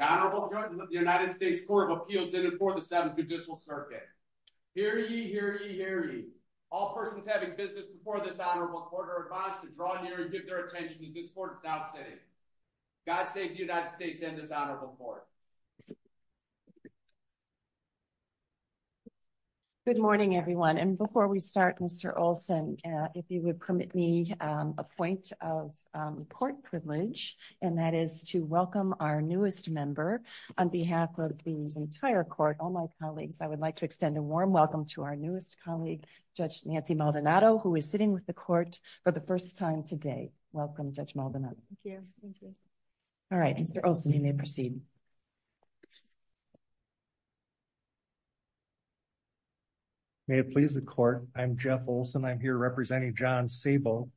the United States Court of Appeals in and for the Seventh Judicial Circuit. Hear ye, hear ye, hear ye. All persons having business before this Honorable Court are advised to draw near and give their attention as this Court is now sitting. God save the United States and this Honorable Court. Good morning everyone and before we start Mr. Olson if you would permit me a point of Court privilege and that is to welcome our newest member on behalf of the entire Court all my colleagues I would like to extend a warm welcome to our newest colleague Judge Nancy Maldonado who is sitting with the Court for the first time today. Welcome Judge Maldonado. All right Mr. Olson you may proceed. May it please the Court I'm Jeff Olson I'm here representing John Sabo.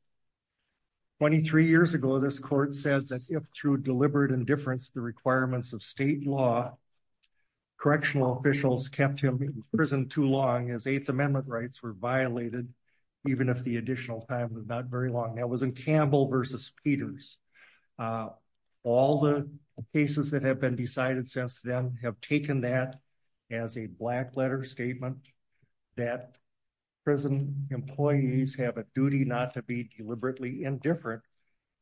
23 years ago this Court says that if through deliberate indifference the requirements of state law correctional officials kept him in prison too long as Eighth Amendment rights were violated even if the additional time was not very long. That was in Campbell v. Peters. All the cases that have been decided since then have taken that as a black letter statement that prison employees have a duty not to be deliberately indifferent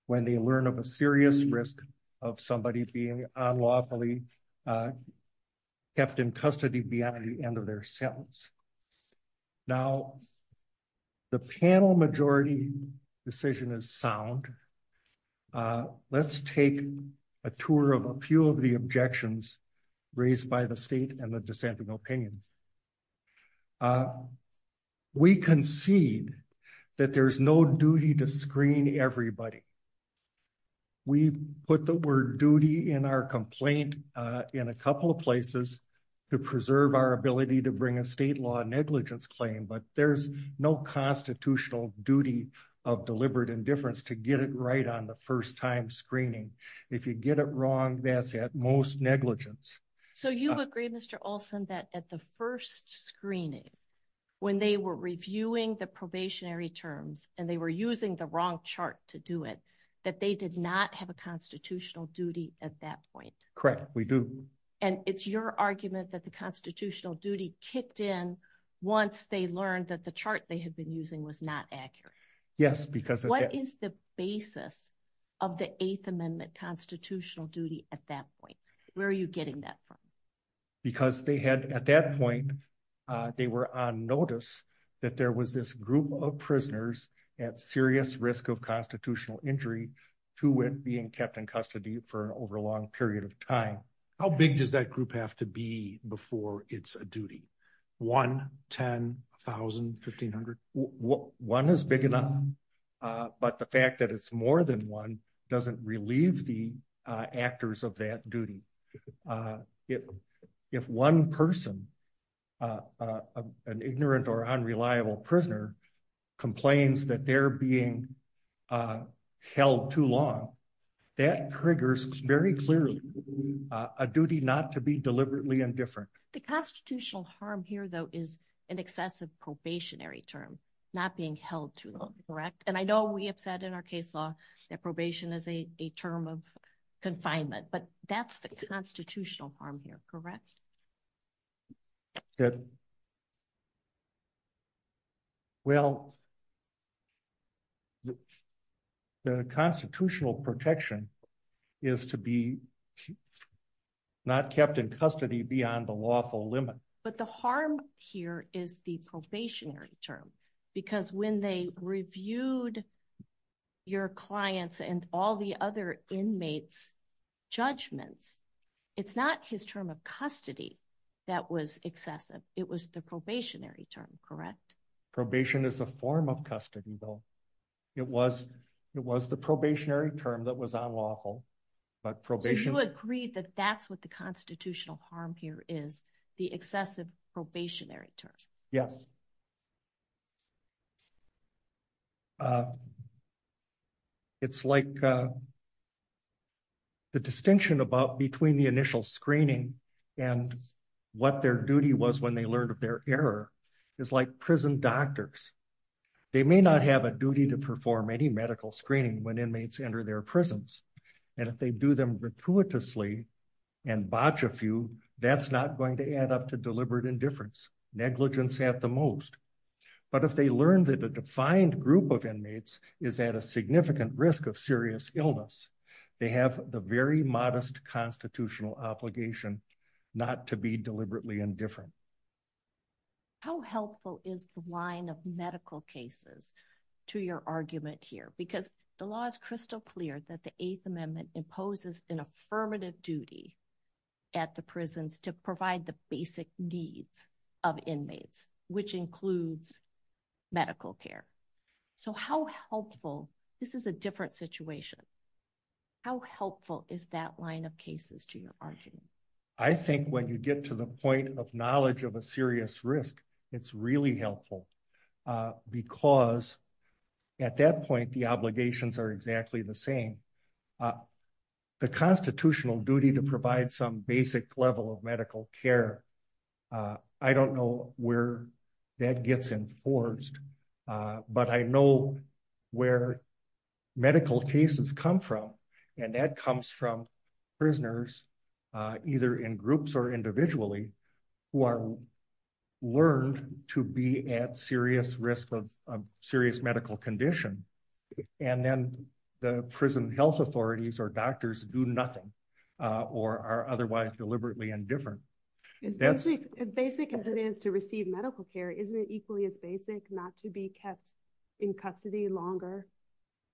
when they learn of a serious risk of somebody being unlawfully kept in custody beyond the end of their sentence. Now the panel majority decision is sound. Let's take a tour of a few of the objections raised by the state and the dissenting opinion. We concede that there's no duty to screen everybody. We put the word duty in our complaint in a couple of places to preserve our ability to bring a state law negligence claim but there's no constitutional duty of deliberate indifference to get it right on the first time screening. If you get it wrong that's at most negligence. So you agree Mr. Olson that at the first screening when they were reviewing the probationary terms and they were using the wrong chart to do it that they did not have a constitutional duty at that point. Correct we do. And it's your argument that the constitutional duty kicked in once they learned that the chart they had been using was not accurate. Yes because. What is the basis of the Eighth Amendment constitutional duty at that point? Where are you getting that from? Because they had at that point they were on notice that there was this group of prisoners at serious risk of constitutional injury to it being kept in custody for over a long period of time. How big does that group have to be before it's a duty? 1, 10, 1,000, 1,500? One is big enough but the fact that it's more than one doesn't relieve the actors of that duty. If one person an ignorant or unreliable prisoner complains that they're being held too long that triggers very clearly a duty not to be deliberately indifferent. The constitutional harm here though is an excessive probationary term not being held too long. Correct. And I know we have said in our case law that probation is a term of confinement but that's the constitutional harm here, correct? Well, the constitutional protection is to be not kept in custody beyond the lawful limit. But the harm here is the probationary term because when they reviewed your clients and all the other inmates judgments, it's not his term of custody that was excessive. It was the probationary term, correct? Probation is a form of custody though. It was the probationary term that was unlawful. So you agree that that's what the constitutional harm here is, the excessive probationary term. Yes. It's like the distinction about between the initial screening and what their duty was when they learned of their error is like prison doctors. They may not have a duty to perform any medical screening when that's not going to add up to deliberate indifference, negligence at the most. But if they learned that a defined group of inmates is at a significant risk of serious illness, they have the very modest constitutional obligation not to be deliberately indifferent. How helpful is the line of medical cases to your argument here? Because the law is crystal clear that the eighth amendment imposes an affirmative duty at the prisons to provide the basic needs of inmates, which includes medical care. So how helpful, this is a different situation. How helpful is that line of cases to your argument? I think when you get to the point of knowledge of a serious risk, it's really helpful. Because at that point, the obligations are exactly the same. The constitutional duty to provide some basic level of medical care. I don't know where that gets enforced. But I know where medical cases come from. And that comes from prisoners, either in groups or individually, who are learned to be at serious risk of serious medical condition. And then the prison health authorities or doctors do nothing, or are otherwise deliberately indifferent. As basic as it is to receive medical care, isn't it equally as basic not to be kept in custody longer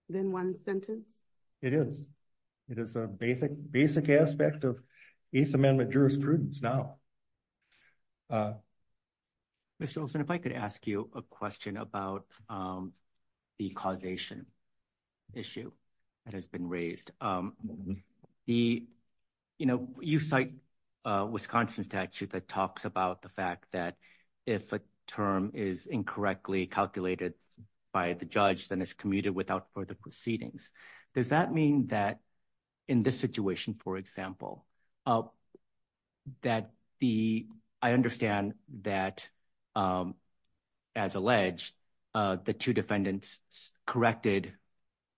than one sentence? It is. It is a basic, basic aspect of eighth amendment jurisprudence now. Mr. Olson, if I could ask you a question about the causation issue that has been raised. The, you know, you cite Wisconsin statute that talks about the fact that if a term is correct, does that mean that in this situation, for example, that the, I understand that as alleged, the two defendants corrected,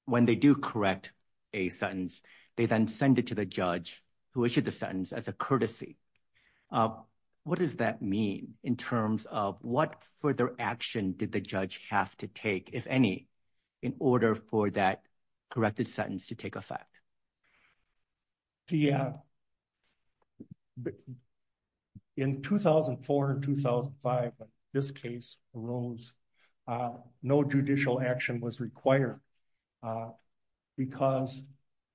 when they do correct a sentence, they then send it to the judge who issued the sentence as a courtesy. What does that mean in terms of what further action did the judge have to take, if any, in order for that corrected sentence to take effect? Yeah. In 2004 and 2005, this case arose, no judicial action was required, because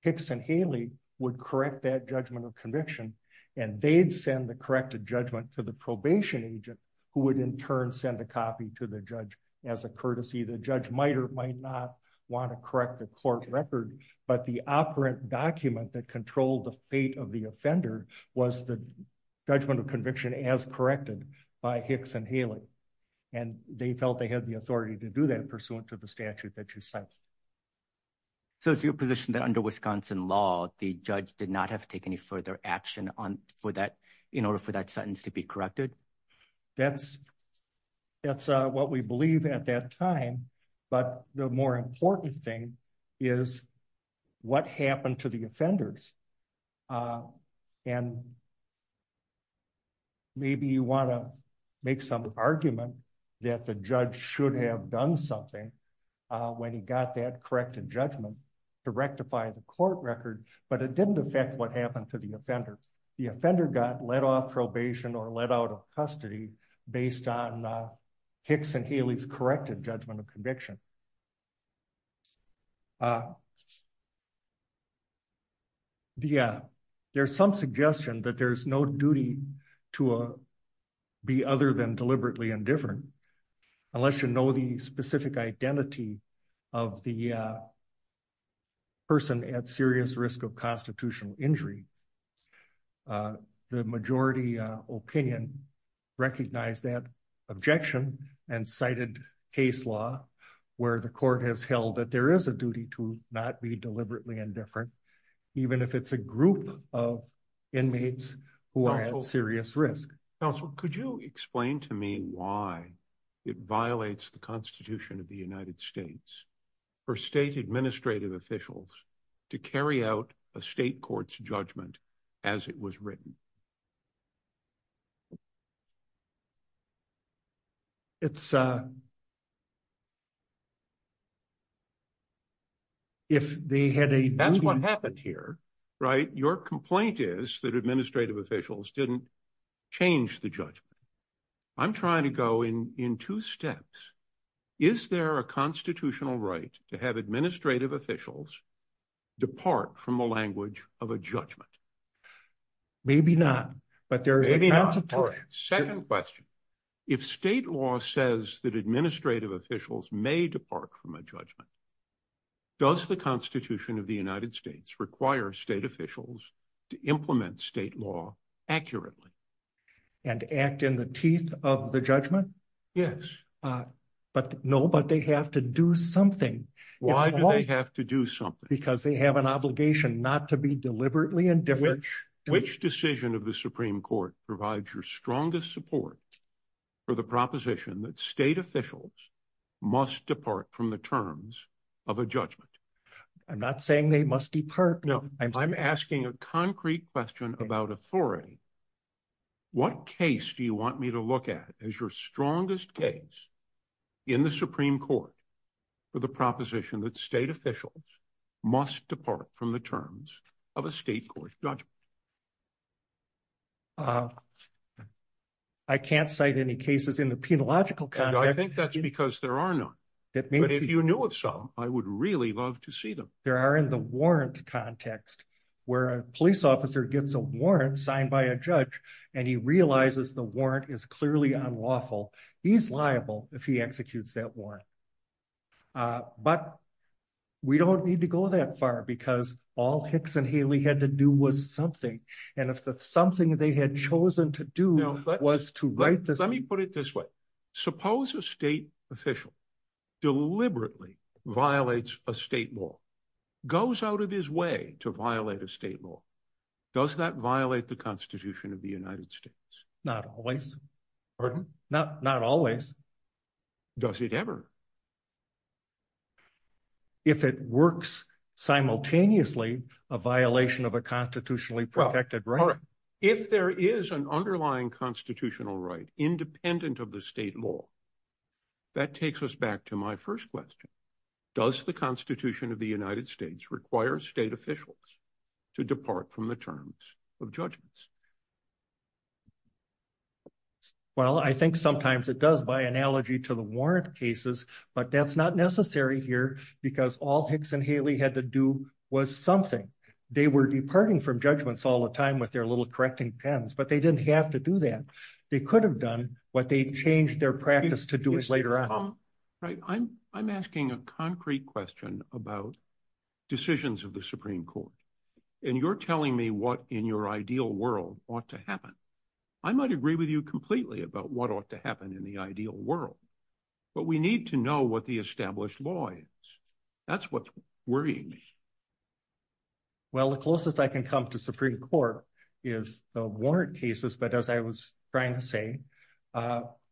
Hicks and Haley would correct that judgment of conviction, and they'd send the corrected judgment to the probation agent, who would in turn send a copy to the judge as a courtesy. The judge might or might not want to correct the court record, but the operant document that controlled the fate of the offender was the judgment of conviction as corrected by Hicks and Haley, and they felt they had the authority to do that pursuant to the statute that you cite. So it's your position that under Wisconsin law, the judge did not have to take any further action in order for that sentence to be corrected? That's what we believe at that time, but the more important thing is what happened to the offenders. And maybe you want to make some argument that the judge should have done something when he got that corrected judgment to rectify the court record, but it didn't affect what happened to the offender. The offender got let off probation or let out of custody based on Hicks and Haley's corrected judgment of conviction. There's some suggestion that there's no duty to be other than deliberately indifferent, unless you know the specific identity of the person at serious risk of constitutional injury. The majority opinion recognized that objection and cited case law where the court has held that there is a duty to not be deliberately indifferent, even if it's a group of inmates who are at serious risk. Counsel, could you explain to me why it violates the Constitution of the United States for state administrative officials to carry out a state court's judgment as it was written? That's what happened here, right? Your complaint is that administrative officials didn't change the judgment. I'm trying to go in two steps. Is there a constitutional right to have administrative officials depart from the language of a judgment? Maybe not, but there is a counter to it. Second question. If state law says that administrative officials may depart from a judgment, does the Constitution of the United States require state officials to implement state law accurately? And act in the teeth of the judgment? Yes. No, but they have to do something. Why do they have to do something? Because they have an obligation not to be deliberately indifferent. Which decision of the Supreme Court provides your strongest support for the proposition that state officials must depart from the terms of a judgment? I'm not saying they must depart. No, I'm asking a concrete question about authority. What case do you want me to look at as your strongest case in the Supreme Court for the proposition that state officials must depart from the terms of a state court's judgment? I can't cite any cases in the penological context. I think that's because there are none. If you knew of some, I would really love to see them. There are in the warrant context, where a police officer gets a warrant signed by a judge, and he realizes the warrant is clearly unlawful. He's liable if he executes that warrant. But we don't need to go that far, because all Hicks and Haley had to do was something. And if the something they had chosen to do was to write this... Let me put it this way. Suppose a state official deliberately violates a state law, goes out of his way to violate a state law. Does that violate the Constitution of the United States? Not always. Pardon? Not always. Does it ever? If it works simultaneously, a violation of a constitutionally protected right. If there is an underlying constitutional right independent of the state law, that takes us back to my first question. Does the Constitution of the United States require state officials to depart from the terms of judgments? Well, I think sometimes it does, by analogy to the warrant cases. But that's not necessary here, because all Hicks and Haley had to do was something. They were departing from judgments all the time with their little correcting pens, but they didn't have to do that. They could have done what they changed their practice to do it later on. Right. I'm asking a concrete question about decisions of the Supreme Court. And you're telling me what in your ideal world ought to happen. I might agree with you completely about what ought to happen in the ideal world. But we need to know what the established law is. That's what's worrying me. Well, the closest I can come to Supreme Court is the warrant cases. But as I was trying to say,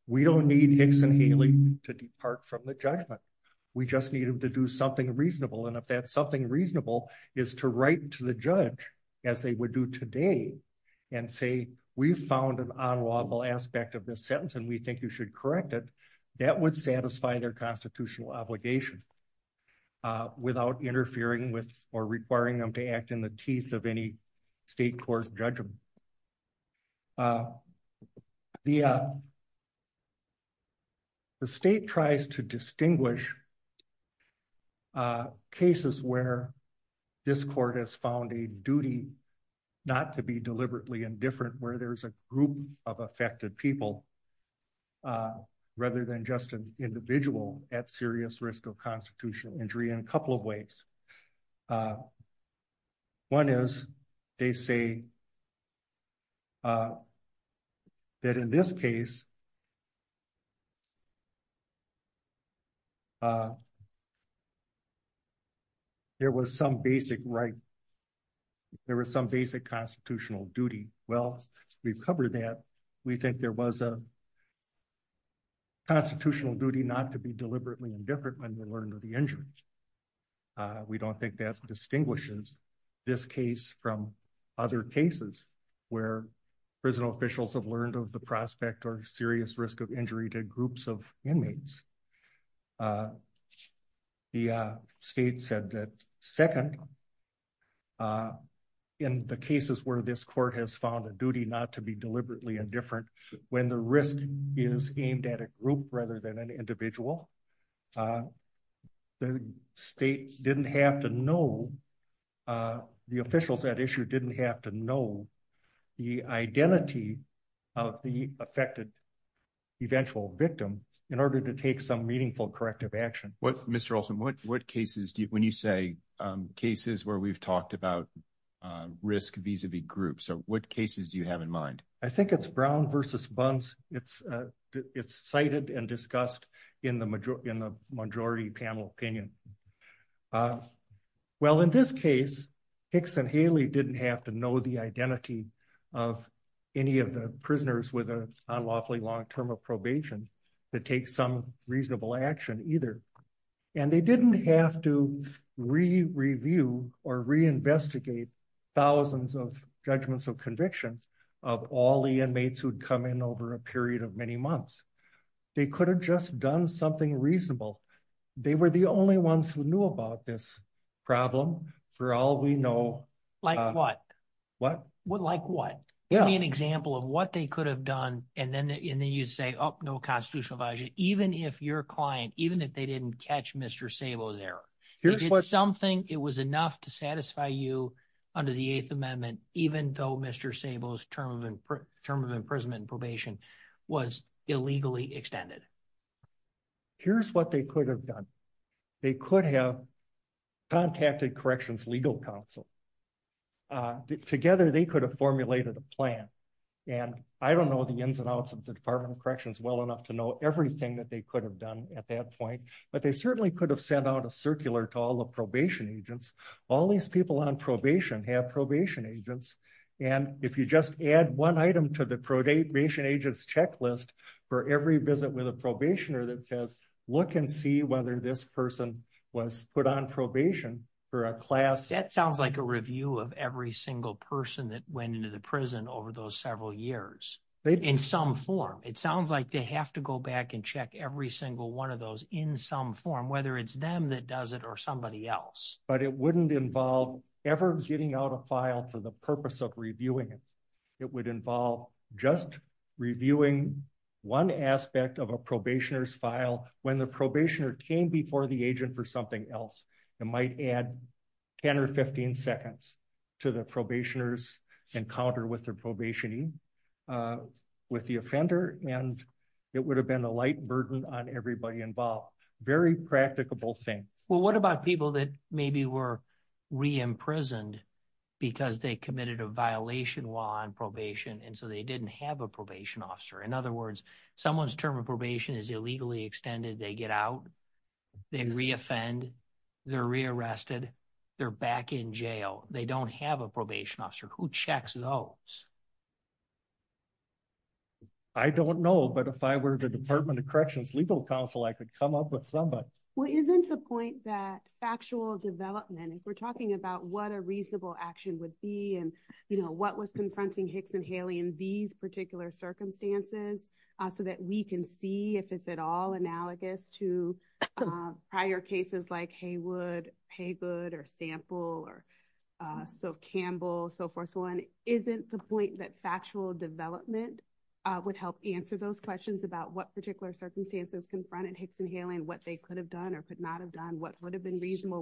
we don't need Hicks and Haley to depart from the judgment. We just need them to do something reasonable. And if that something reasonable is to write to the judge, as they would do today, and say, we found an unlawful aspect of this sentence and we think you should correct it. That would satisfy their constitutional obligation without interfering with or requiring them to act in the teeth of any state court's judgment. The state tries to distinguish cases where this court has found a duty not to be deliberately indifferent where there's a group of affected people, rather than just an individual at serious risk of constitutional injury in a couple of ways. One is, they say that in this case, there was some basic right, there was some basic constitutional duty. Well, we've covered that. We think there was a constitutional duty not to be deliberately indifferent when we learned of the injuries. We don't think that distinguishes this case from other cases where prison officials have learned of the prospect or serious risk of injury to groups of inmates. The state said that second, in the cases where this court has found a duty not to be deliberately indifferent, when the risk is aimed at a group rather than an individual, the state didn't have to know, the officials at issue didn't have to know the identity of the affected eventual victim in order to take some meaningful corrective action. Mr. Olson, what cases, when you say cases where we've talked about risk vis-a-vis groups, what cases do you have in mind? I think it's Brown versus Bunce. It's cited and discussed in the majority panel opinion. Well, in this case, Hicks and Haley didn't have to know the identity of any of the prisoners with an unlawfully long term of probation to take some reasonable action either. And they didn't have to re-review or reinvestigate thousands of judgments of conviction of all the inmates who'd come in over a period of many months. They could have just done something reasonable. They were the only ones who knew about this problem for all we know. Like what? What? Like what? Yeah. Give me an example of what they could have done and then you'd say, oh, no constitutional violation, even if your client, even if they didn't catch Mr. Szabo's error. He did something, it was enough to satisfy you under the Eighth Amendment, even though Mr. Szabo's term of imprisonment and probation was illegally extended. Here's what they could have done. They could have contacted Corrections Legal Counsel. Together, they could have formulated a plan. And I don't know the ins and outs of the Department of Corrections well enough to know everything that they could have done at that point. But they certainly could have sent out a circular to all the probation agents. All these people on probation have probation agents. And if you just add one item to the probation agents checklist for every visit with a probationer that says, look and see whether this person was put on probation for a class. That sounds like a review of every single person that went into the prison over those several years in some form. It sounds like they have to go back and check every single one of those in some form, whether it's them that does it or somebody else. But it wouldn't involve ever getting out a file for the purpose of reviewing it. It would involve just reviewing one aspect of a probationer's file. When the probationer came before the agent for something else, it might add 10 or 15 seconds to the probationer's encounter with their probationee, with the offender. And it would have been a light burden on everybody involved. Very practicable thing. Well, what about people that maybe were re-imprisoned because they committed a violation while on probation and so they didn't have a probation officer? In other words, someone's term of probation is illegally extended. They get out. They re-offend. They're re-arrested. They're back in jail. They don't have a probation officer. Who checks those? I don't know. But if I were the Department of Corrections legal counsel, I could come up with somebody. Well, isn't the point that factual development, if we're talking about what a reasonable action would be and, you know, what was confronting Hicks and Haley in these particular circumstances, so that we can see if it's at all analogous to prior cases like What would have been reasonable?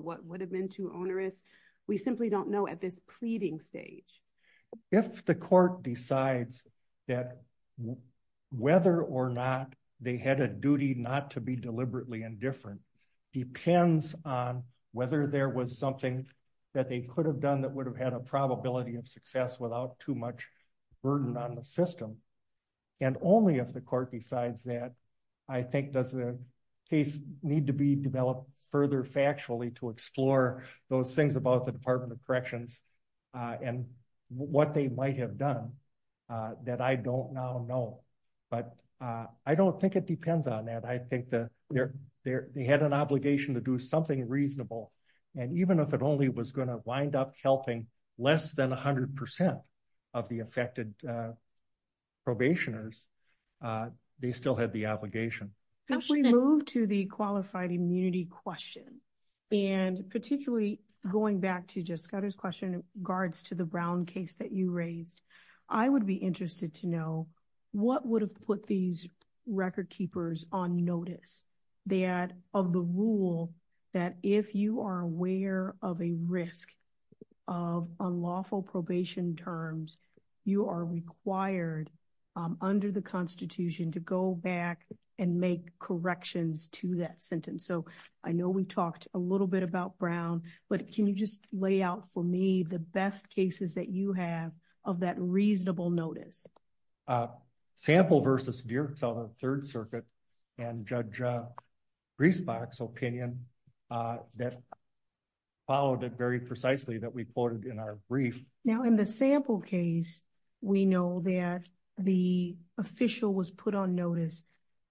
What would have been too onerous? We simply don't know at this pleading stage. If the court decides that whether or not they had a duty not to be deliberately indifferent depends on whether there was something that they could have done that would have had a probability of success without too much burden on the system. And only if the court decides that, I think, does the case need to be developed further factually to explore those things about the Department of Corrections and what they might have done that I don't now know. But I don't think it depends on that. I think that they had an obligation to do something reasonable. And even if it only was going to wind up helping less than 100% of the affected probationers, they still had the obligation. If we move to the qualified immunity question, and particularly going back to just got his question guards to the brown case that you raised, I would be interested to know what would have put these record keepers on notice. That of the rule that if you are aware of a risk of unlawful probation terms, you are required under the Constitution to go back and make corrections to that sentence. So, I know we talked a little bit about brown, but can you just lay out for me the best cases that you have of that reasonable notice. Sample versus your third circuit and judge greasebox opinion that followed it very precisely that we quoted in our brief. Now in the sample case, we know that the official was put on notice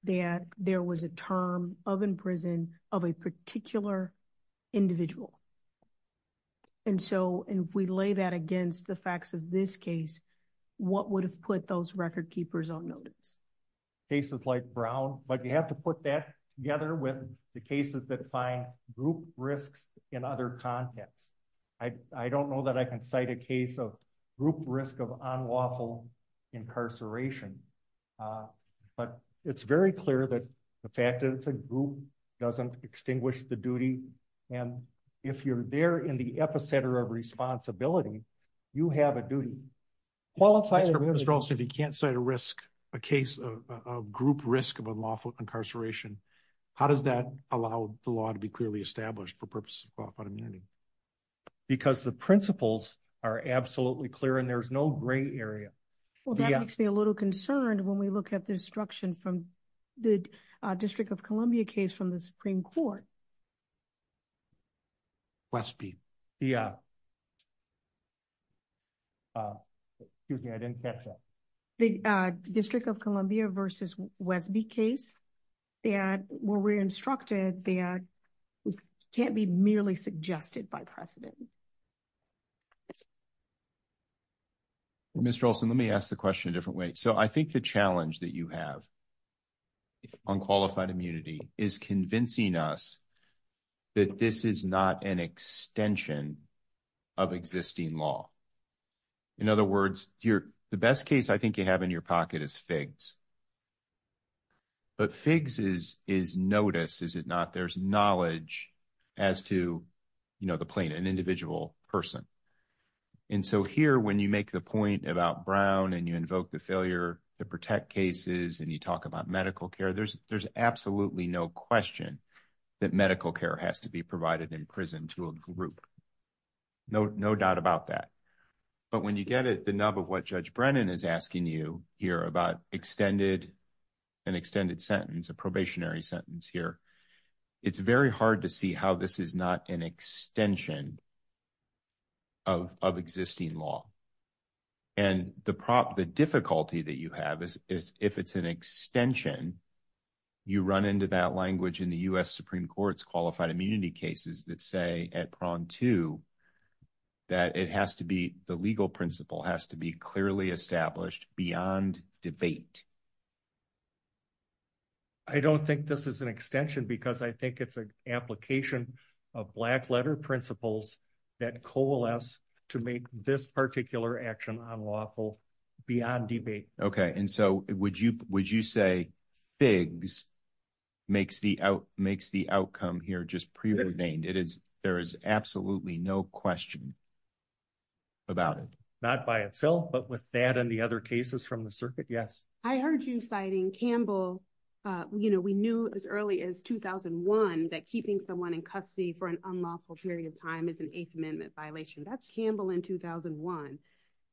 that there was a term of in prison of a particular individual. And so, if we lay that against the facts of this case, what would have put those record keepers on notice cases like brown, but you have to put that together with the cases that find group risks in other contexts. I don't know that I can cite a case of group risk of unlawful incarceration. But it's very clear that the fact that it's a group doesn't extinguish the duty. And if you're there in the epicenter of responsibility. You have a duty. Well, if you can't cite a risk, a case of group risk of unlawful incarceration, how does that allow the law to be clearly established for purpose? Because the principles are absolutely clear and there's no gray area. Well, that makes me a little concerned when we look at the instruction from the district of Columbia case from the Supreme Court. Yeah. Excuse me, I didn't catch that. The district of Columbia versus Westby case. Yeah, well, we're instructed the can't be merely suggested by precedent. Mr. Olson, let me ask the question a different way. So, I think the challenge that you have. On qualified immunity is convincing us. That this is not an extension. Of existing law, in other words, you're the best case I think you have in your pocket is figs. But fixes is notice is it not there's knowledge. As to, you know, the plane, an individual person. And so here, when you make the point about brown, and you invoke the failure to protect cases, and you talk about medical care, there's, there's absolutely no question. That medical care has to be provided in prison to a group. No, no doubt about that, but when you get it, the nub of what judge Brennan is asking you here about extended. An extended sentence, a probationary sentence here. It's very hard to see how this is not an extension. Of of existing law. And the prop, the difficulty that you have is if it's an extension. You run into that language in the US Supreme Court's qualified immunity cases that say at prone to. That it has to be the legal principle has to be clearly established beyond debate. I don't think this is an extension because I think it's an application of black letter principles. That coalesce to make this particular action on lawful. Beyond debate. Okay. And so would you, would you say. Bigs makes the out makes the outcome here just preordained. It is. There is absolutely no question. About it, not by itself, but with that and the other cases from the circuit. Yes, I heard you citing Campbell. Uh, you know, we knew as early as 2001 that keeping someone in custody for an unlawful period of time is an 8th amendment violation. That's Campbell in 2001.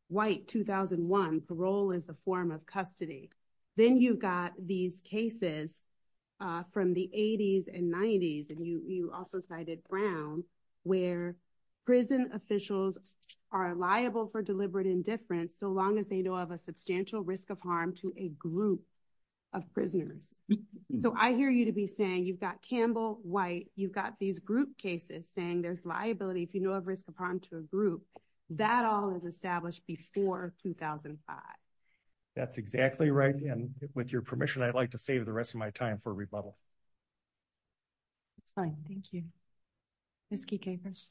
White 2001 parole is a form of custody. Then you've got these cases. Uh, from the 80s and 90s, and you also cited brown. Where prison officials are liable for deliberate indifference so long as they know of a substantial risk of harm to a group. Of prisoners, so I hear you to be saying, you've got Campbell white, you've got these group cases saying there's liability. If, you know, of risk upon to a group. That all is established before 2005. That's exactly right. And with your permission, I'd like to save the rest of my time for rebuttal. It's fine. Thank you. Miss key capers.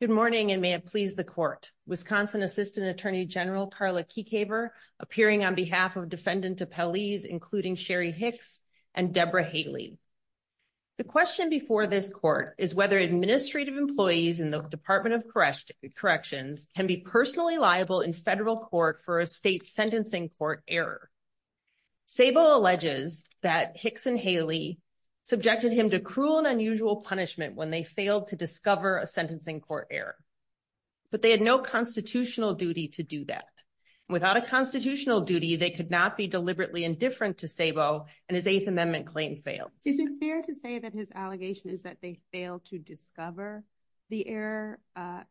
Good morning and may it please the court, Wisconsin assistant attorney general Carla key caper appearing on behalf of defendant to police, including Sherry Hicks and Deborah Haley. The question before this court is whether administrative employees in the Department of corrections can be personally liable in federal court for a state sentencing court error. Sable alleges that Hicks and Haley subjected him to cruel and unusual punishment when they failed to discover a sentencing court error. But they had no constitutional duty to do that. Without a constitutional duty, they could not be deliberately indifferent to Sabo and his 8th amendment claim failed. Is it fair to say that his allegation is that they fail to discover the air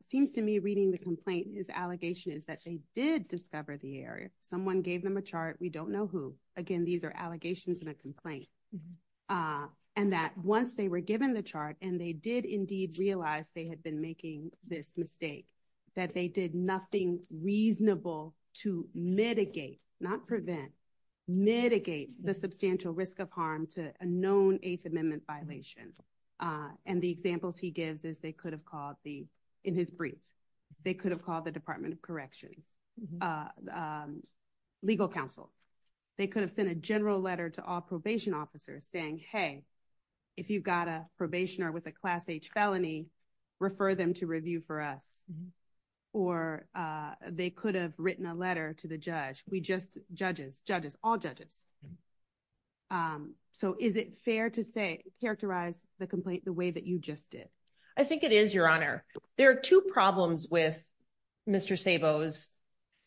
seems to me reading the complaint is allegation is that they did discover the area. Someone gave them a chart. We don't know who, again, these are allegations and a complaint. And that once they were given the chart and they did indeed realize they had been making this mistake that they did nothing reasonable to mitigate not prevent mitigate the substantial risk of harm to a known eighth amendment violation. And the examples he gives is they could have called the in his brief. They could have called the Department of Corrections. Legal counsel, they could have sent a general letter to all probation officers saying, hey, if you've got a probation or with a class H felony, refer them to review for us, or they could have written a letter to the judge. We just judges judges all judges. So, is it fair to say characterize the complaint the way that you just did? I think it is your honor. There are 2 problems with Mr. Sabo is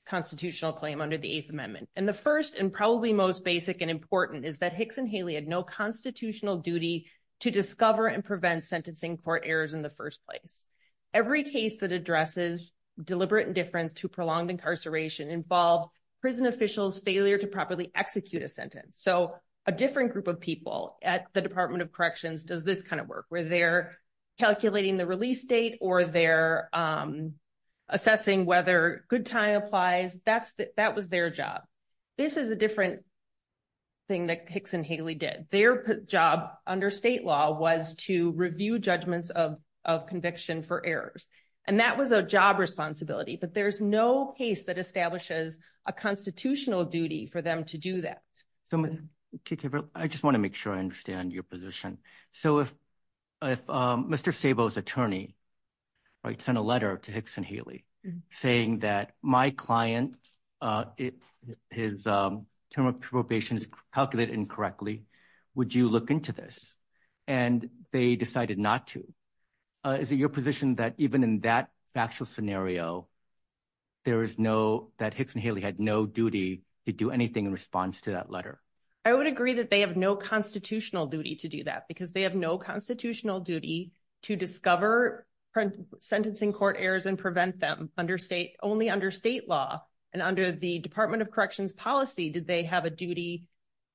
constitutional claim under the 8th amendment. And the 1st, and probably most basic and important is that Hicks and Haley had no constitutional duty to discover and prevent sentencing for errors in the 1st place. Every case that addresses deliberate indifference to prolonged incarceration involved prison officials failure to properly execute a sentence. So, a different group of people at the Department of Corrections does this kind of work where they're calculating the release date or they're assessing whether good time applies. That's that was their job. This is a different thing that kicks and Haley did their job under state law was to review judgments of conviction for errors. And that was a job responsibility, but there's no case that establishes a constitutional duty for them to do that. So, I just want to make sure I understand your position. So, if Mr. Sabo is attorney. I sent a letter to Hicks and Haley, saying that my client. It is term of probation is calculated incorrectly. Would you look into this, and they decided not to. Is it your position that even in that factual scenario? There is no that Hicks and Haley had no duty to do anything in response to that letter. I would agree that they have no constitutional duty to do that because they have no constitutional duty to discover. Sentencing court errors and prevent them under state only under state law and under the Department of corrections policy. Did they have a duty?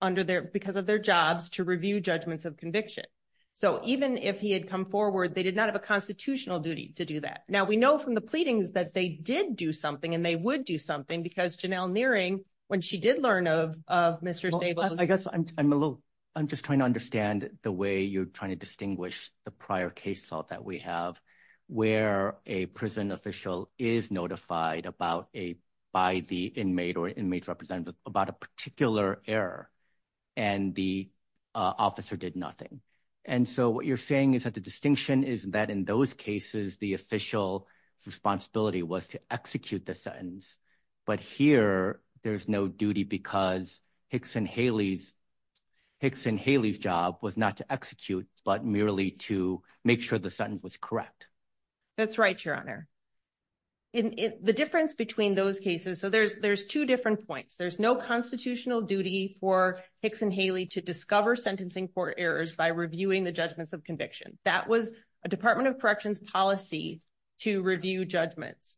Under there, because of their jobs to review judgments of conviction. So, even if he had come forward, they did not have a constitutional duty to do that. Now, we know from the pleadings that they did do something and they would do something because Janelle nearing when she did learn of Mr. I guess I'm, I'm a little, I'm just trying to understand the way you're trying to distinguish the prior case thought that we have where a prison official is notified about a by the inmate or inmate representative about a particular error. And the officer did nothing. And so what you're saying is that the distinction is that in those cases, the official responsibility was to execute the sentence. But here, there's no duty because Hicks and Haley's Hicks and Haley's job was not to execute, but merely to make sure the sentence was correct. That's right. Your honor. The difference between those cases, so there's, there's 2 different points. There's no constitutional duty for Hicks and Haley to discover sentencing for errors by reviewing the judgments of conviction. That was a Department of corrections policy. To review judgments.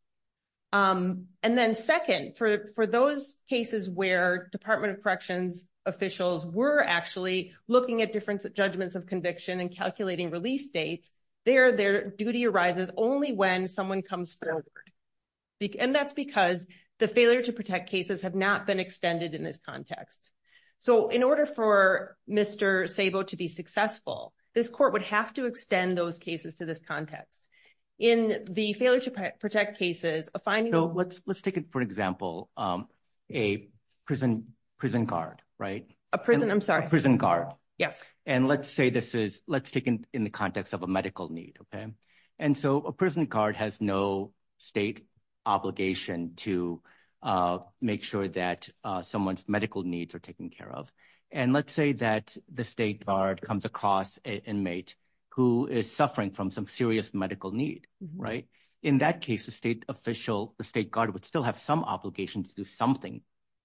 And then 2nd, for, for those cases where Department of corrections officials were actually looking at different judgments of conviction and calculating release dates there, their duty arises only when someone comes forward. And that's because the failure to protect cases have not been extended in this context. So, in order for Mr. Sabo to be successful, this court would have to extend those cases to this context in the failure to protect cases of finding. Let's, let's take it. For example, a prison prison guard, right? A prison. I'm sorry. Prison guard. Yes. And let's say this is, let's take in the context of a medical need. And so a prison guard has no state obligation to make sure that someone's medical needs are taken care of. And let's say that the state guard comes across an inmate who is suffering from some serious medical need. Right. In that case, the state official, the state guard would still have some obligation to do something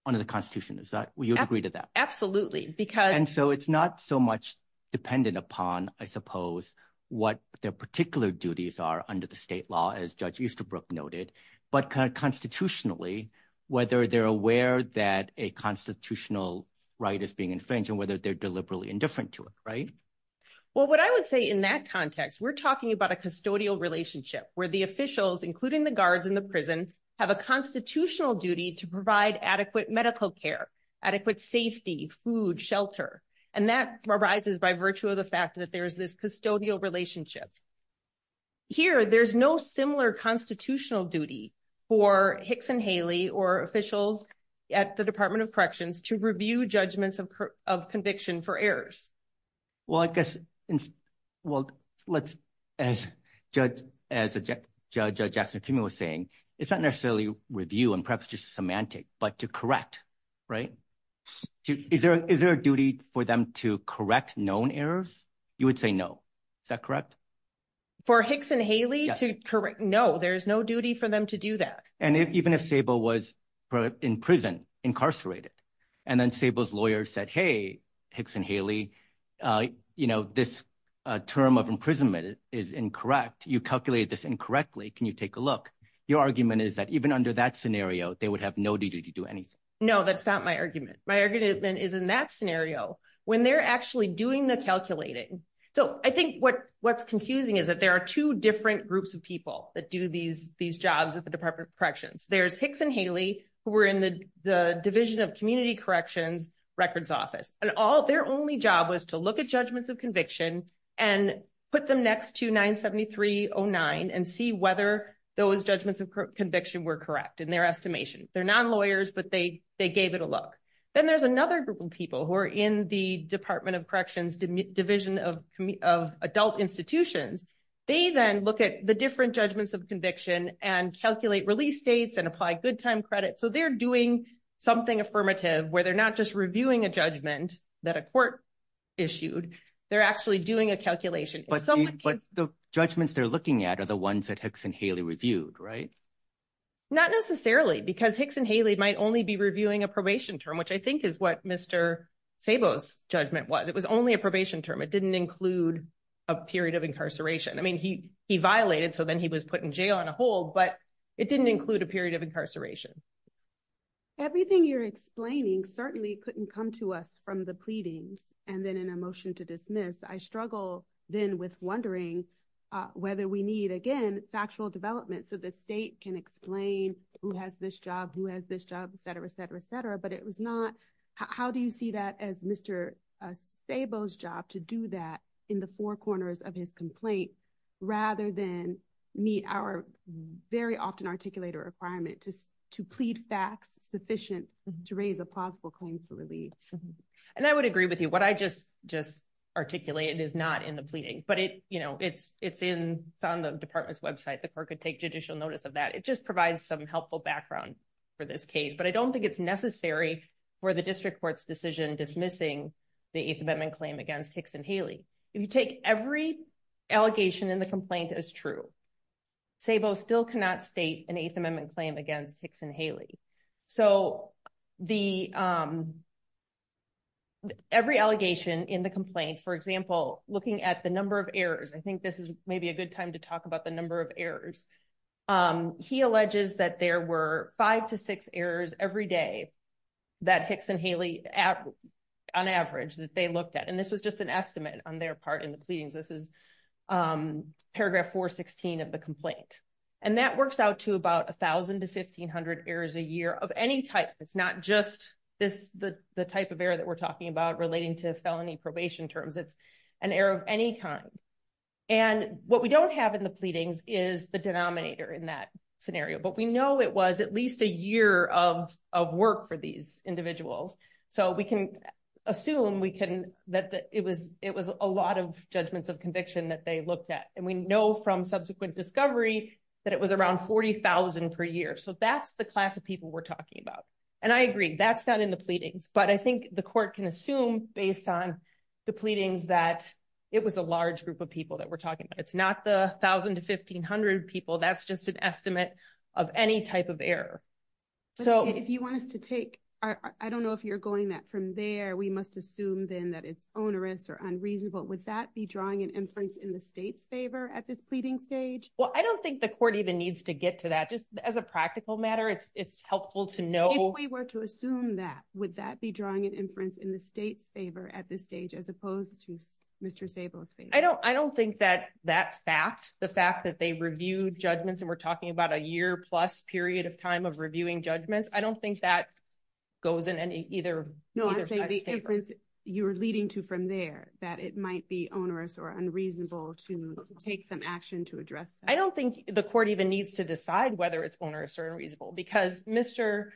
under the constitution. Is that what you agree to that? Absolutely. Because so it's not so much dependent upon, I suppose, what their particular duties are under the state law as judge Easterbrook noted, but kind of constitutionally, whether they're aware that a constitutional right is being infringed and whether they're deliberately indifferent to it. Right. Well, what I would say in that context, we're talking about a custodial relationship where the officials, including the guards in the prison, have a constitutional duty to provide adequate medical care, adequate safety, food, shelter. And that arises by virtue of the fact that there is this custodial relationship. Here, there's no similar constitutional duty for Hicks and Haley or officials at the Department of Corrections to review judgments of conviction for errors. Well, I guess. Well, let's as judge, as a judge, Jackson was saying, it's not necessarily review and perhaps just semantic, but to correct. Right. Is there a duty for them to correct known errors? You would say no. Is that correct? For Hicks and Haley to correct? No, there's no duty for them to do that. And even if Sable was in prison, incarcerated, and then Sable's lawyer said, hey, Hicks and Haley, you know, this term of imprisonment is incorrect. You calculated this incorrectly. Can you take a look? Your argument is that even under that scenario, they would have no duty to do anything. No, that's not my argument. My argument is, in that scenario, when they're actually doing the calculating. So, I think what's confusing is that there are 2 different groups of people that do these jobs at the Department of Corrections. There's Hicks and Haley who were in the Division of Community Corrections records office. And their only job was to look at judgments of conviction and put them next to 97309 and see whether those judgments of conviction were correct in their estimation. They're non-lawyers, but they gave it a look. Then there's another group of people who are in the Department of Corrections Division of Adult Institutions. They then look at the different judgments of conviction and calculate release dates and apply good time credit. So, they're doing something affirmative where they're not just reviewing a judgment that a court issued. They're actually doing a calculation. But the judgments they're looking at are the ones that Hicks and Haley reviewed, right? Not necessarily, because Hicks and Haley might only be reviewing a probation term, which I think is what Mr. Sabo's judgment was. It was only a probation term. It didn't include a period of incarceration. I mean, he violated, so then he was put in jail on a whole, but it didn't include a period of incarceration. Everything you're explaining certainly couldn't come to us from the pleadings and then in a motion to dismiss. I struggle then with wondering whether we need, again, factual development so the state can explain who has this job, who has this job, etc., etc., etc. How do you see that as Mr. Sabo's job to do that in the four corners of his complaint rather than meet our very often articulated requirement to plead facts sufficient to raise a plausible claim for relief? And I would agree with you. What I just articulated is not in the pleading, but it's on the department's website. The court could take judicial notice of that. It just provides some helpful background for this case, but I don't think it's necessary for the district court's decision dismissing the Eighth Amendment claim against Hicks and Haley. If you take every allegation in the complaint as true, Sabo still cannot state an Eighth Amendment claim against Hicks and Haley. So, every allegation in the complaint, for example, looking at the number of errors, I think this is maybe a good time to talk about the number of errors. He alleges that there were five to six errors every day that Hicks and Haley, on average, that they looked at. And this was just an estimate on their part in the pleadings. This is paragraph 416 of the complaint. And that works out to about 1000 to 1500 errors a year of any type. It's not just the type of error that we're talking about relating to felony probation terms. It's an error of any kind. And what we don't have in the pleadings is the denominator in that scenario, but we know it was at least a year of work for these individuals. So, we can assume that it was a lot of judgments of conviction that they looked at. And we know from subsequent discovery that it was around 40000 per year. So that's the class of people we're talking about. And I agree that's not in the pleadings, but I think the court can assume based on the pleadings that it was a large group of people that we're talking about. It's not the 1000 to 1500 people. That's just an estimate of any type of error. So, if you want us to take, I don't know if you're going that from there, we must assume then that it's onerous or unreasonable. Would that be drawing an inference in the state's favor at this pleading stage? Well, I don't think the court even needs to get to that just as a practical matter. It's helpful to know. If we were to assume that, would that be drawing an inference in the state's favor at this stage as opposed to Mr. Sables? I don't I don't think that that fact, the fact that they reviewed judgments and we're talking about a year plus period of time of reviewing judgments. I don't think that. Goes in either. No, I'm saying the inference you're leading to from there that it might be onerous or unreasonable to take some action to address. I don't think the court even needs to decide whether it's onerous or unreasonable because Mr.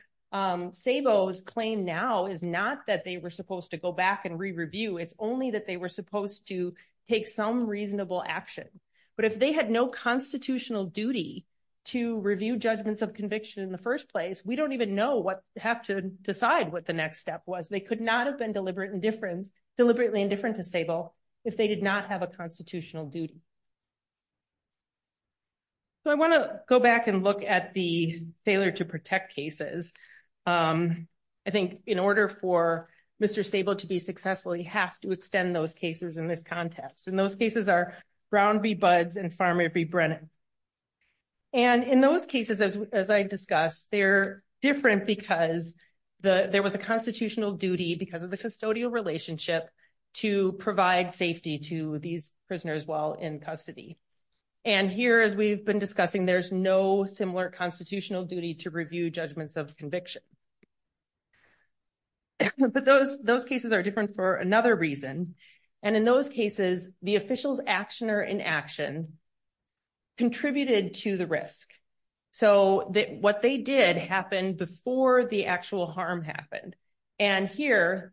Sables claim now is not that they were supposed to go back and re, review. It's only that they were supposed to take some reasonable action. But if they had no constitutional duty to review judgments of conviction in the 1st place, we don't even know what have to decide what the next step was. They could not have been deliberate indifference, deliberately indifferent to stable. If they did not have a constitutional duty, I want to go back and look at the failure to protect cases. I think in order for Mr. stable to be successful, he has to extend those cases in this context. And those cases are ground be buds and farm every Brennan. And in those cases, as I discussed, they're different because the, there was a constitutional duty because of the custodial relationship to provide safety to these prisoners while in custody. And here, as we've been discussing, there's no similar constitutional duty to review judgments of conviction. But those, those cases are different for another reason. And in those cases, the officials action or in action. Contributed to the risk, so that what they did happen before the actual harm happened and here.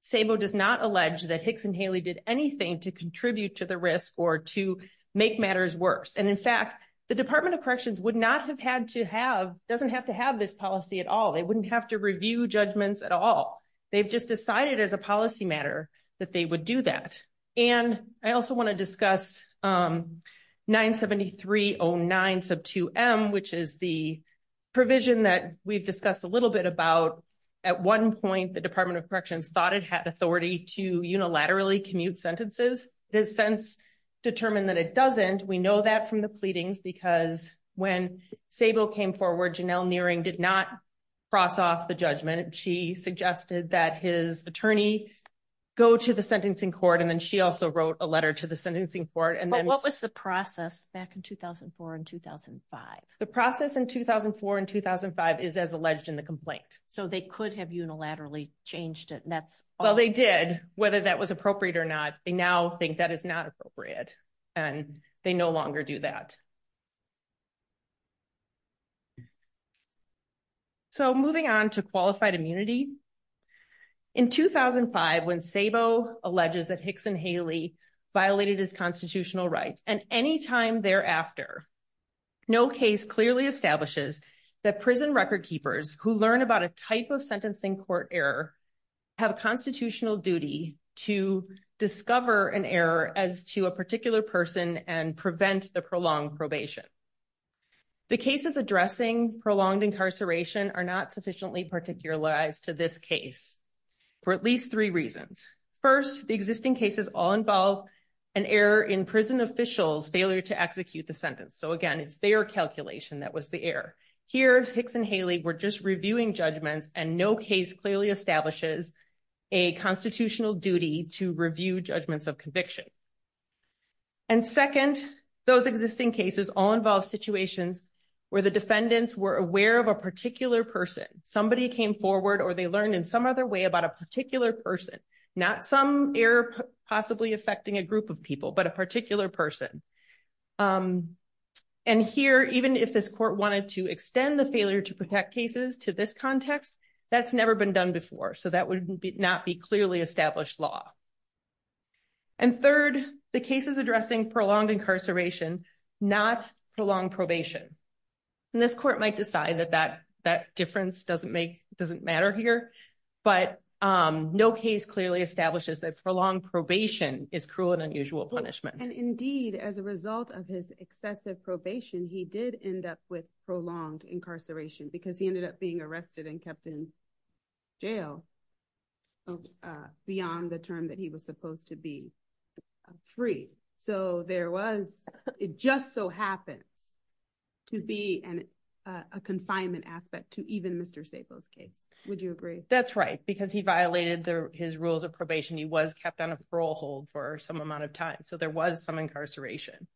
Sable does not allege that Hicks and Haley did anything to contribute to the risk or to make matters worse. And in fact, the Department of corrections would not have had to have doesn't have to have this policy at all. They wouldn't have to review judgments at all. They've just decided as a policy matter that they would do that. And I also want to discuss 97309 sub 2 M, which is the provision that we've discussed a little bit about. At one point, the Department of corrections thought it had authority to unilaterally commute sentences. It has since determined that it doesn't. We know that from the pleadings, because when Sable came forward, Janelle nearing did not. Cross off the judgment, she suggested that his attorney. Go to the sentencing court, and then she also wrote a letter to the sentencing for it. And then what was the process back in 2004 and 2005, the process in 2004 and 2005 is as alleged in the complaint. So, they could have unilaterally changed it and that's well, they did, whether that was appropriate or not. They now think that is not appropriate. And they no longer do that. So, moving on to qualified immunity. In 2005, when Sabo alleges that Hicks and Haley violated his constitutional rights and any time thereafter. No case clearly establishes that prison record keepers who learn about a type of sentencing court error. Have a constitutional duty to discover an error as to a particular person and prevent the prolonged probation. The cases addressing prolonged incarceration are not sufficiently particular lies to this case. For at least 3 reasons 1st, the existing cases all involve an error in prison officials failure to execute the sentence. So again, it's their calculation. That was the air here. Hicks and Haley. We're just reviewing judgments and no case clearly establishes. A constitutional duty to review judgments of conviction. And 2nd, those existing cases all involve situations where the defendants were aware of a particular person. Somebody came forward, or they learned in some other way about a particular person. Not some air, possibly affecting a group of people, but a particular person. And here, even if this court wanted to extend the failure to protect cases to this context, that's never been done before. So that would not be clearly established law. And 3rd, the case is addressing prolonged incarceration, not prolong probation. And this court might decide that that that difference doesn't make doesn't matter here, but no case clearly establishes that for long probation is cruel and unusual punishment. And indeed, as a result of his excessive probation, he did end up with prolonged incarceration because he ended up being arrested and kept in. Jail. Beyond the term that he was supposed to be. Free, so there was, it just so happens. To be an, a confinement aspect to even Mr safe those case, would you agree? That's right. Because he violated the, his rules of probation. He was kept on a parole hold for some amount of time. So there was some incarceration.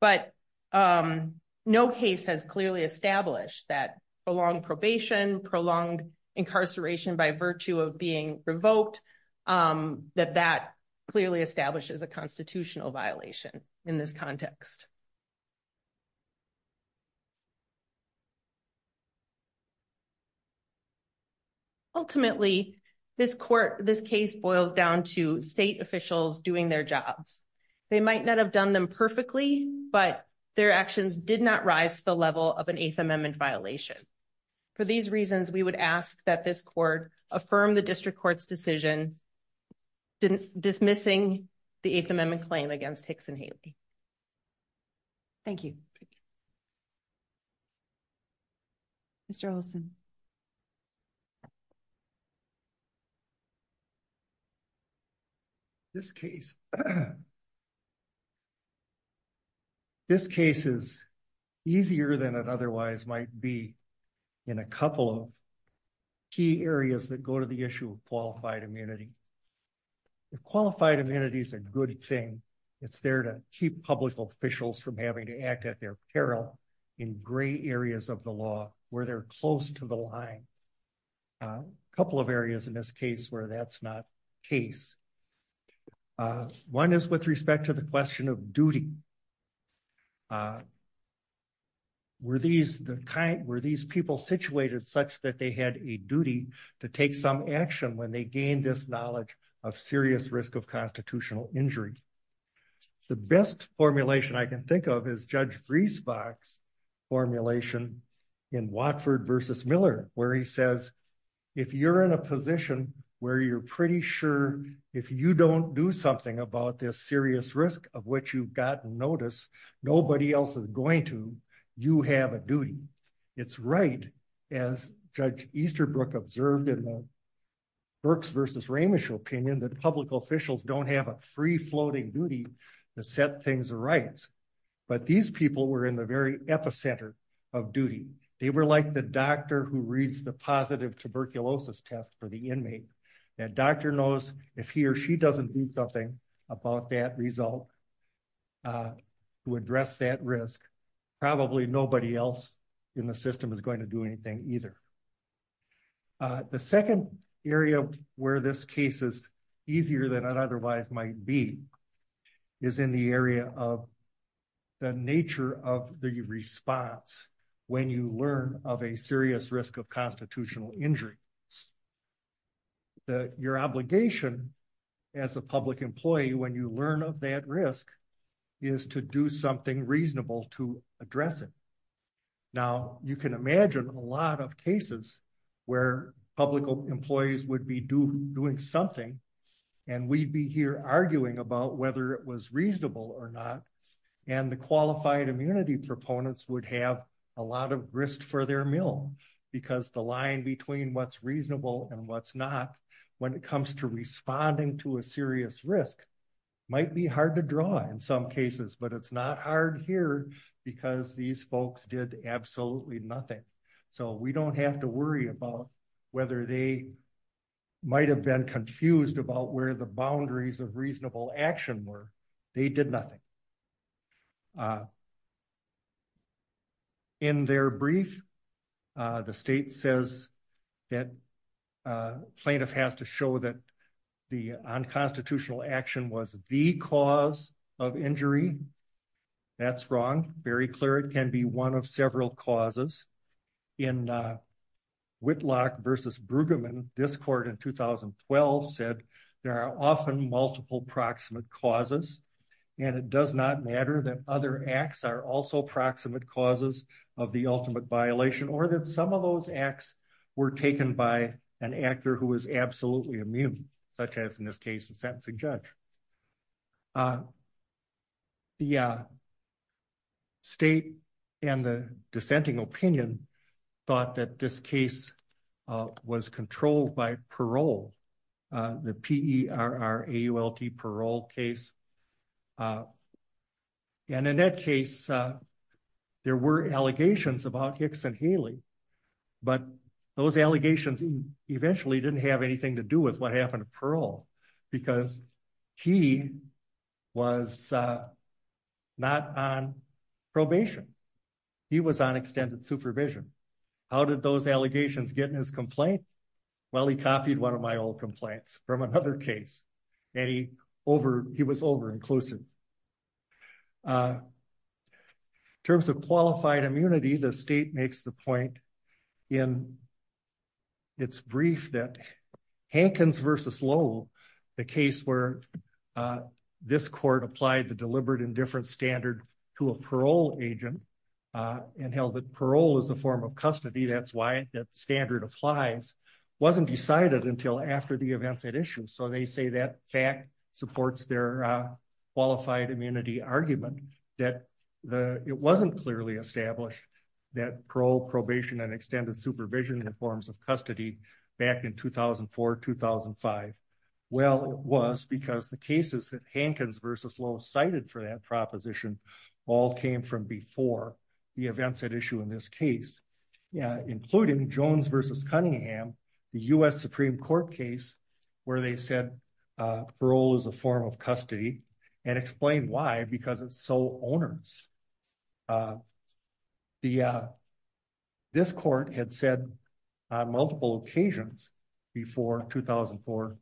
But, um, no case has clearly established that along probation, prolonged incarceration by virtue of being revoked that that clearly establishes a constitutional violation in this context. Ultimately, this court, this case boils down to state officials doing their jobs. They might not have done them perfectly, but their actions did not rise to the level of an 8th amendment violation. For these reasons, we would ask that this court affirm the district court's decision. Dismissing the 8th amendment claim against Hicks and Haley. Thank you. Mr. Olson. This case. This case is easier than it otherwise might be in a couple of key areas that go to the issue of qualified immunity. Qualified immunity is a good thing. It's there to keep public officials from having to act at their peril in gray areas of the law, where they're close to the line. Couple of areas in this case where that's not case. One is with respect to the question of duty. Were these the kind where these people situated such that they had a duty to take some action when they gained this knowledge of serious risk of constitutional injury. The best formulation I can think of is judge grease box formulation in Watford versus Miller, where he says, if you're in a position where you're pretty sure if you don't do something about this serious risk of what you've gotten notice. Nobody else is going to you have a duty. It's right. As judge Easterbrook observed in the works versus ramish opinion that public officials don't have a free floating duty to set things right. But these people were in the very epicenter of duty. They were like the doctor who reads the positive tuberculosis test for the inmate. That doctor knows if he or she doesn't do something about that result. To address that risk. Probably nobody else in the system is going to do anything either. The second area where this case is easier than otherwise might be is in the area of the nature of the response. When you learn of a serious risk of constitutional injury. That your obligation as a public employee when you learn of that risk is to do something reasonable to address it. Now, you can imagine a lot of cases where public employees would be doing something. And we'd be here arguing about whether it was reasonable or not. And the qualified immunity proponents would have a lot of risk for their meal because the line between what's reasonable and what's not when it comes to responding to a serious risk. Might be hard to draw in some cases, but it's not hard here because these folks did absolutely nothing. So we don't have to worry about whether they might have been confused about where the boundaries of reasonable action were. They did nothing. In their brief, the state says that plaintiff has to show that the unconstitutional action was the cause of injury. That's wrong. Very clear. It can be one of several causes. In Whitlock versus Brueggemann, this court in 2012 said there are often multiple proximate causes. And it does not matter that other acts are also proximate causes of the ultimate violation or that some of those acts were taken by an actor who is absolutely immune, such as in this case, the sentencing judge. The state and the dissenting opinion thought that this case was controlled by parole, the P-E-R-R-A-U-L-T parole case. And in that case, there were allegations about Hicks and Haley, but those allegations eventually didn't have anything to do with what happened to parole because he was not on probation. He was on extended supervision. How did those allegations get in his complaint? Well, he copied one of my old complaints from another case, and he was over-inclusive. In terms of qualified immunity, the state makes the point in its brief that Hankins versus Lowell, the case where this court applied the deliberate indifference standard to a parole agent and held that parole is a form of custody. Maybe that's why that standard applies. It wasn't decided until after the events at issue, so they say that fact supports their qualified immunity argument that it wasn't clearly established that parole, probation, and extended supervision are forms of custody back in 2004-2005. Well, it was because the cases that Hankins versus Lowell cited for that proposition all came from before the events at issue in this case, including Jones versus Cunningham, the U.S. Supreme Court case where they said parole is a form of custody and explained why, because it's sole owners. This court had said on multiple occasions before 2004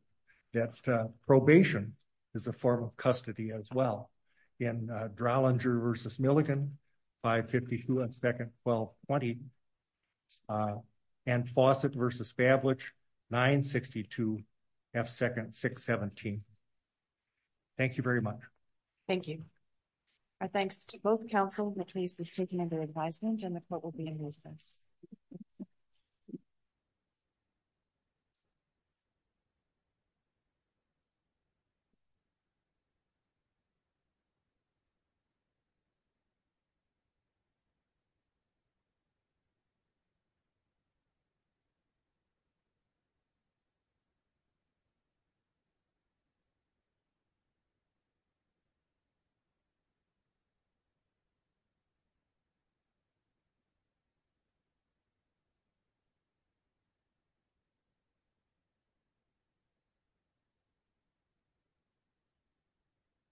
that probation is a form of custody as well. In Dralinger versus Milligan, 552 F. 2nd. 1220, and Fawcett versus Bablage, 962 F. 2nd. 617. Thank you very much. Thank you. Our thanks to both counsel, the case is taken under advisement and the court will be in recess. Thank you.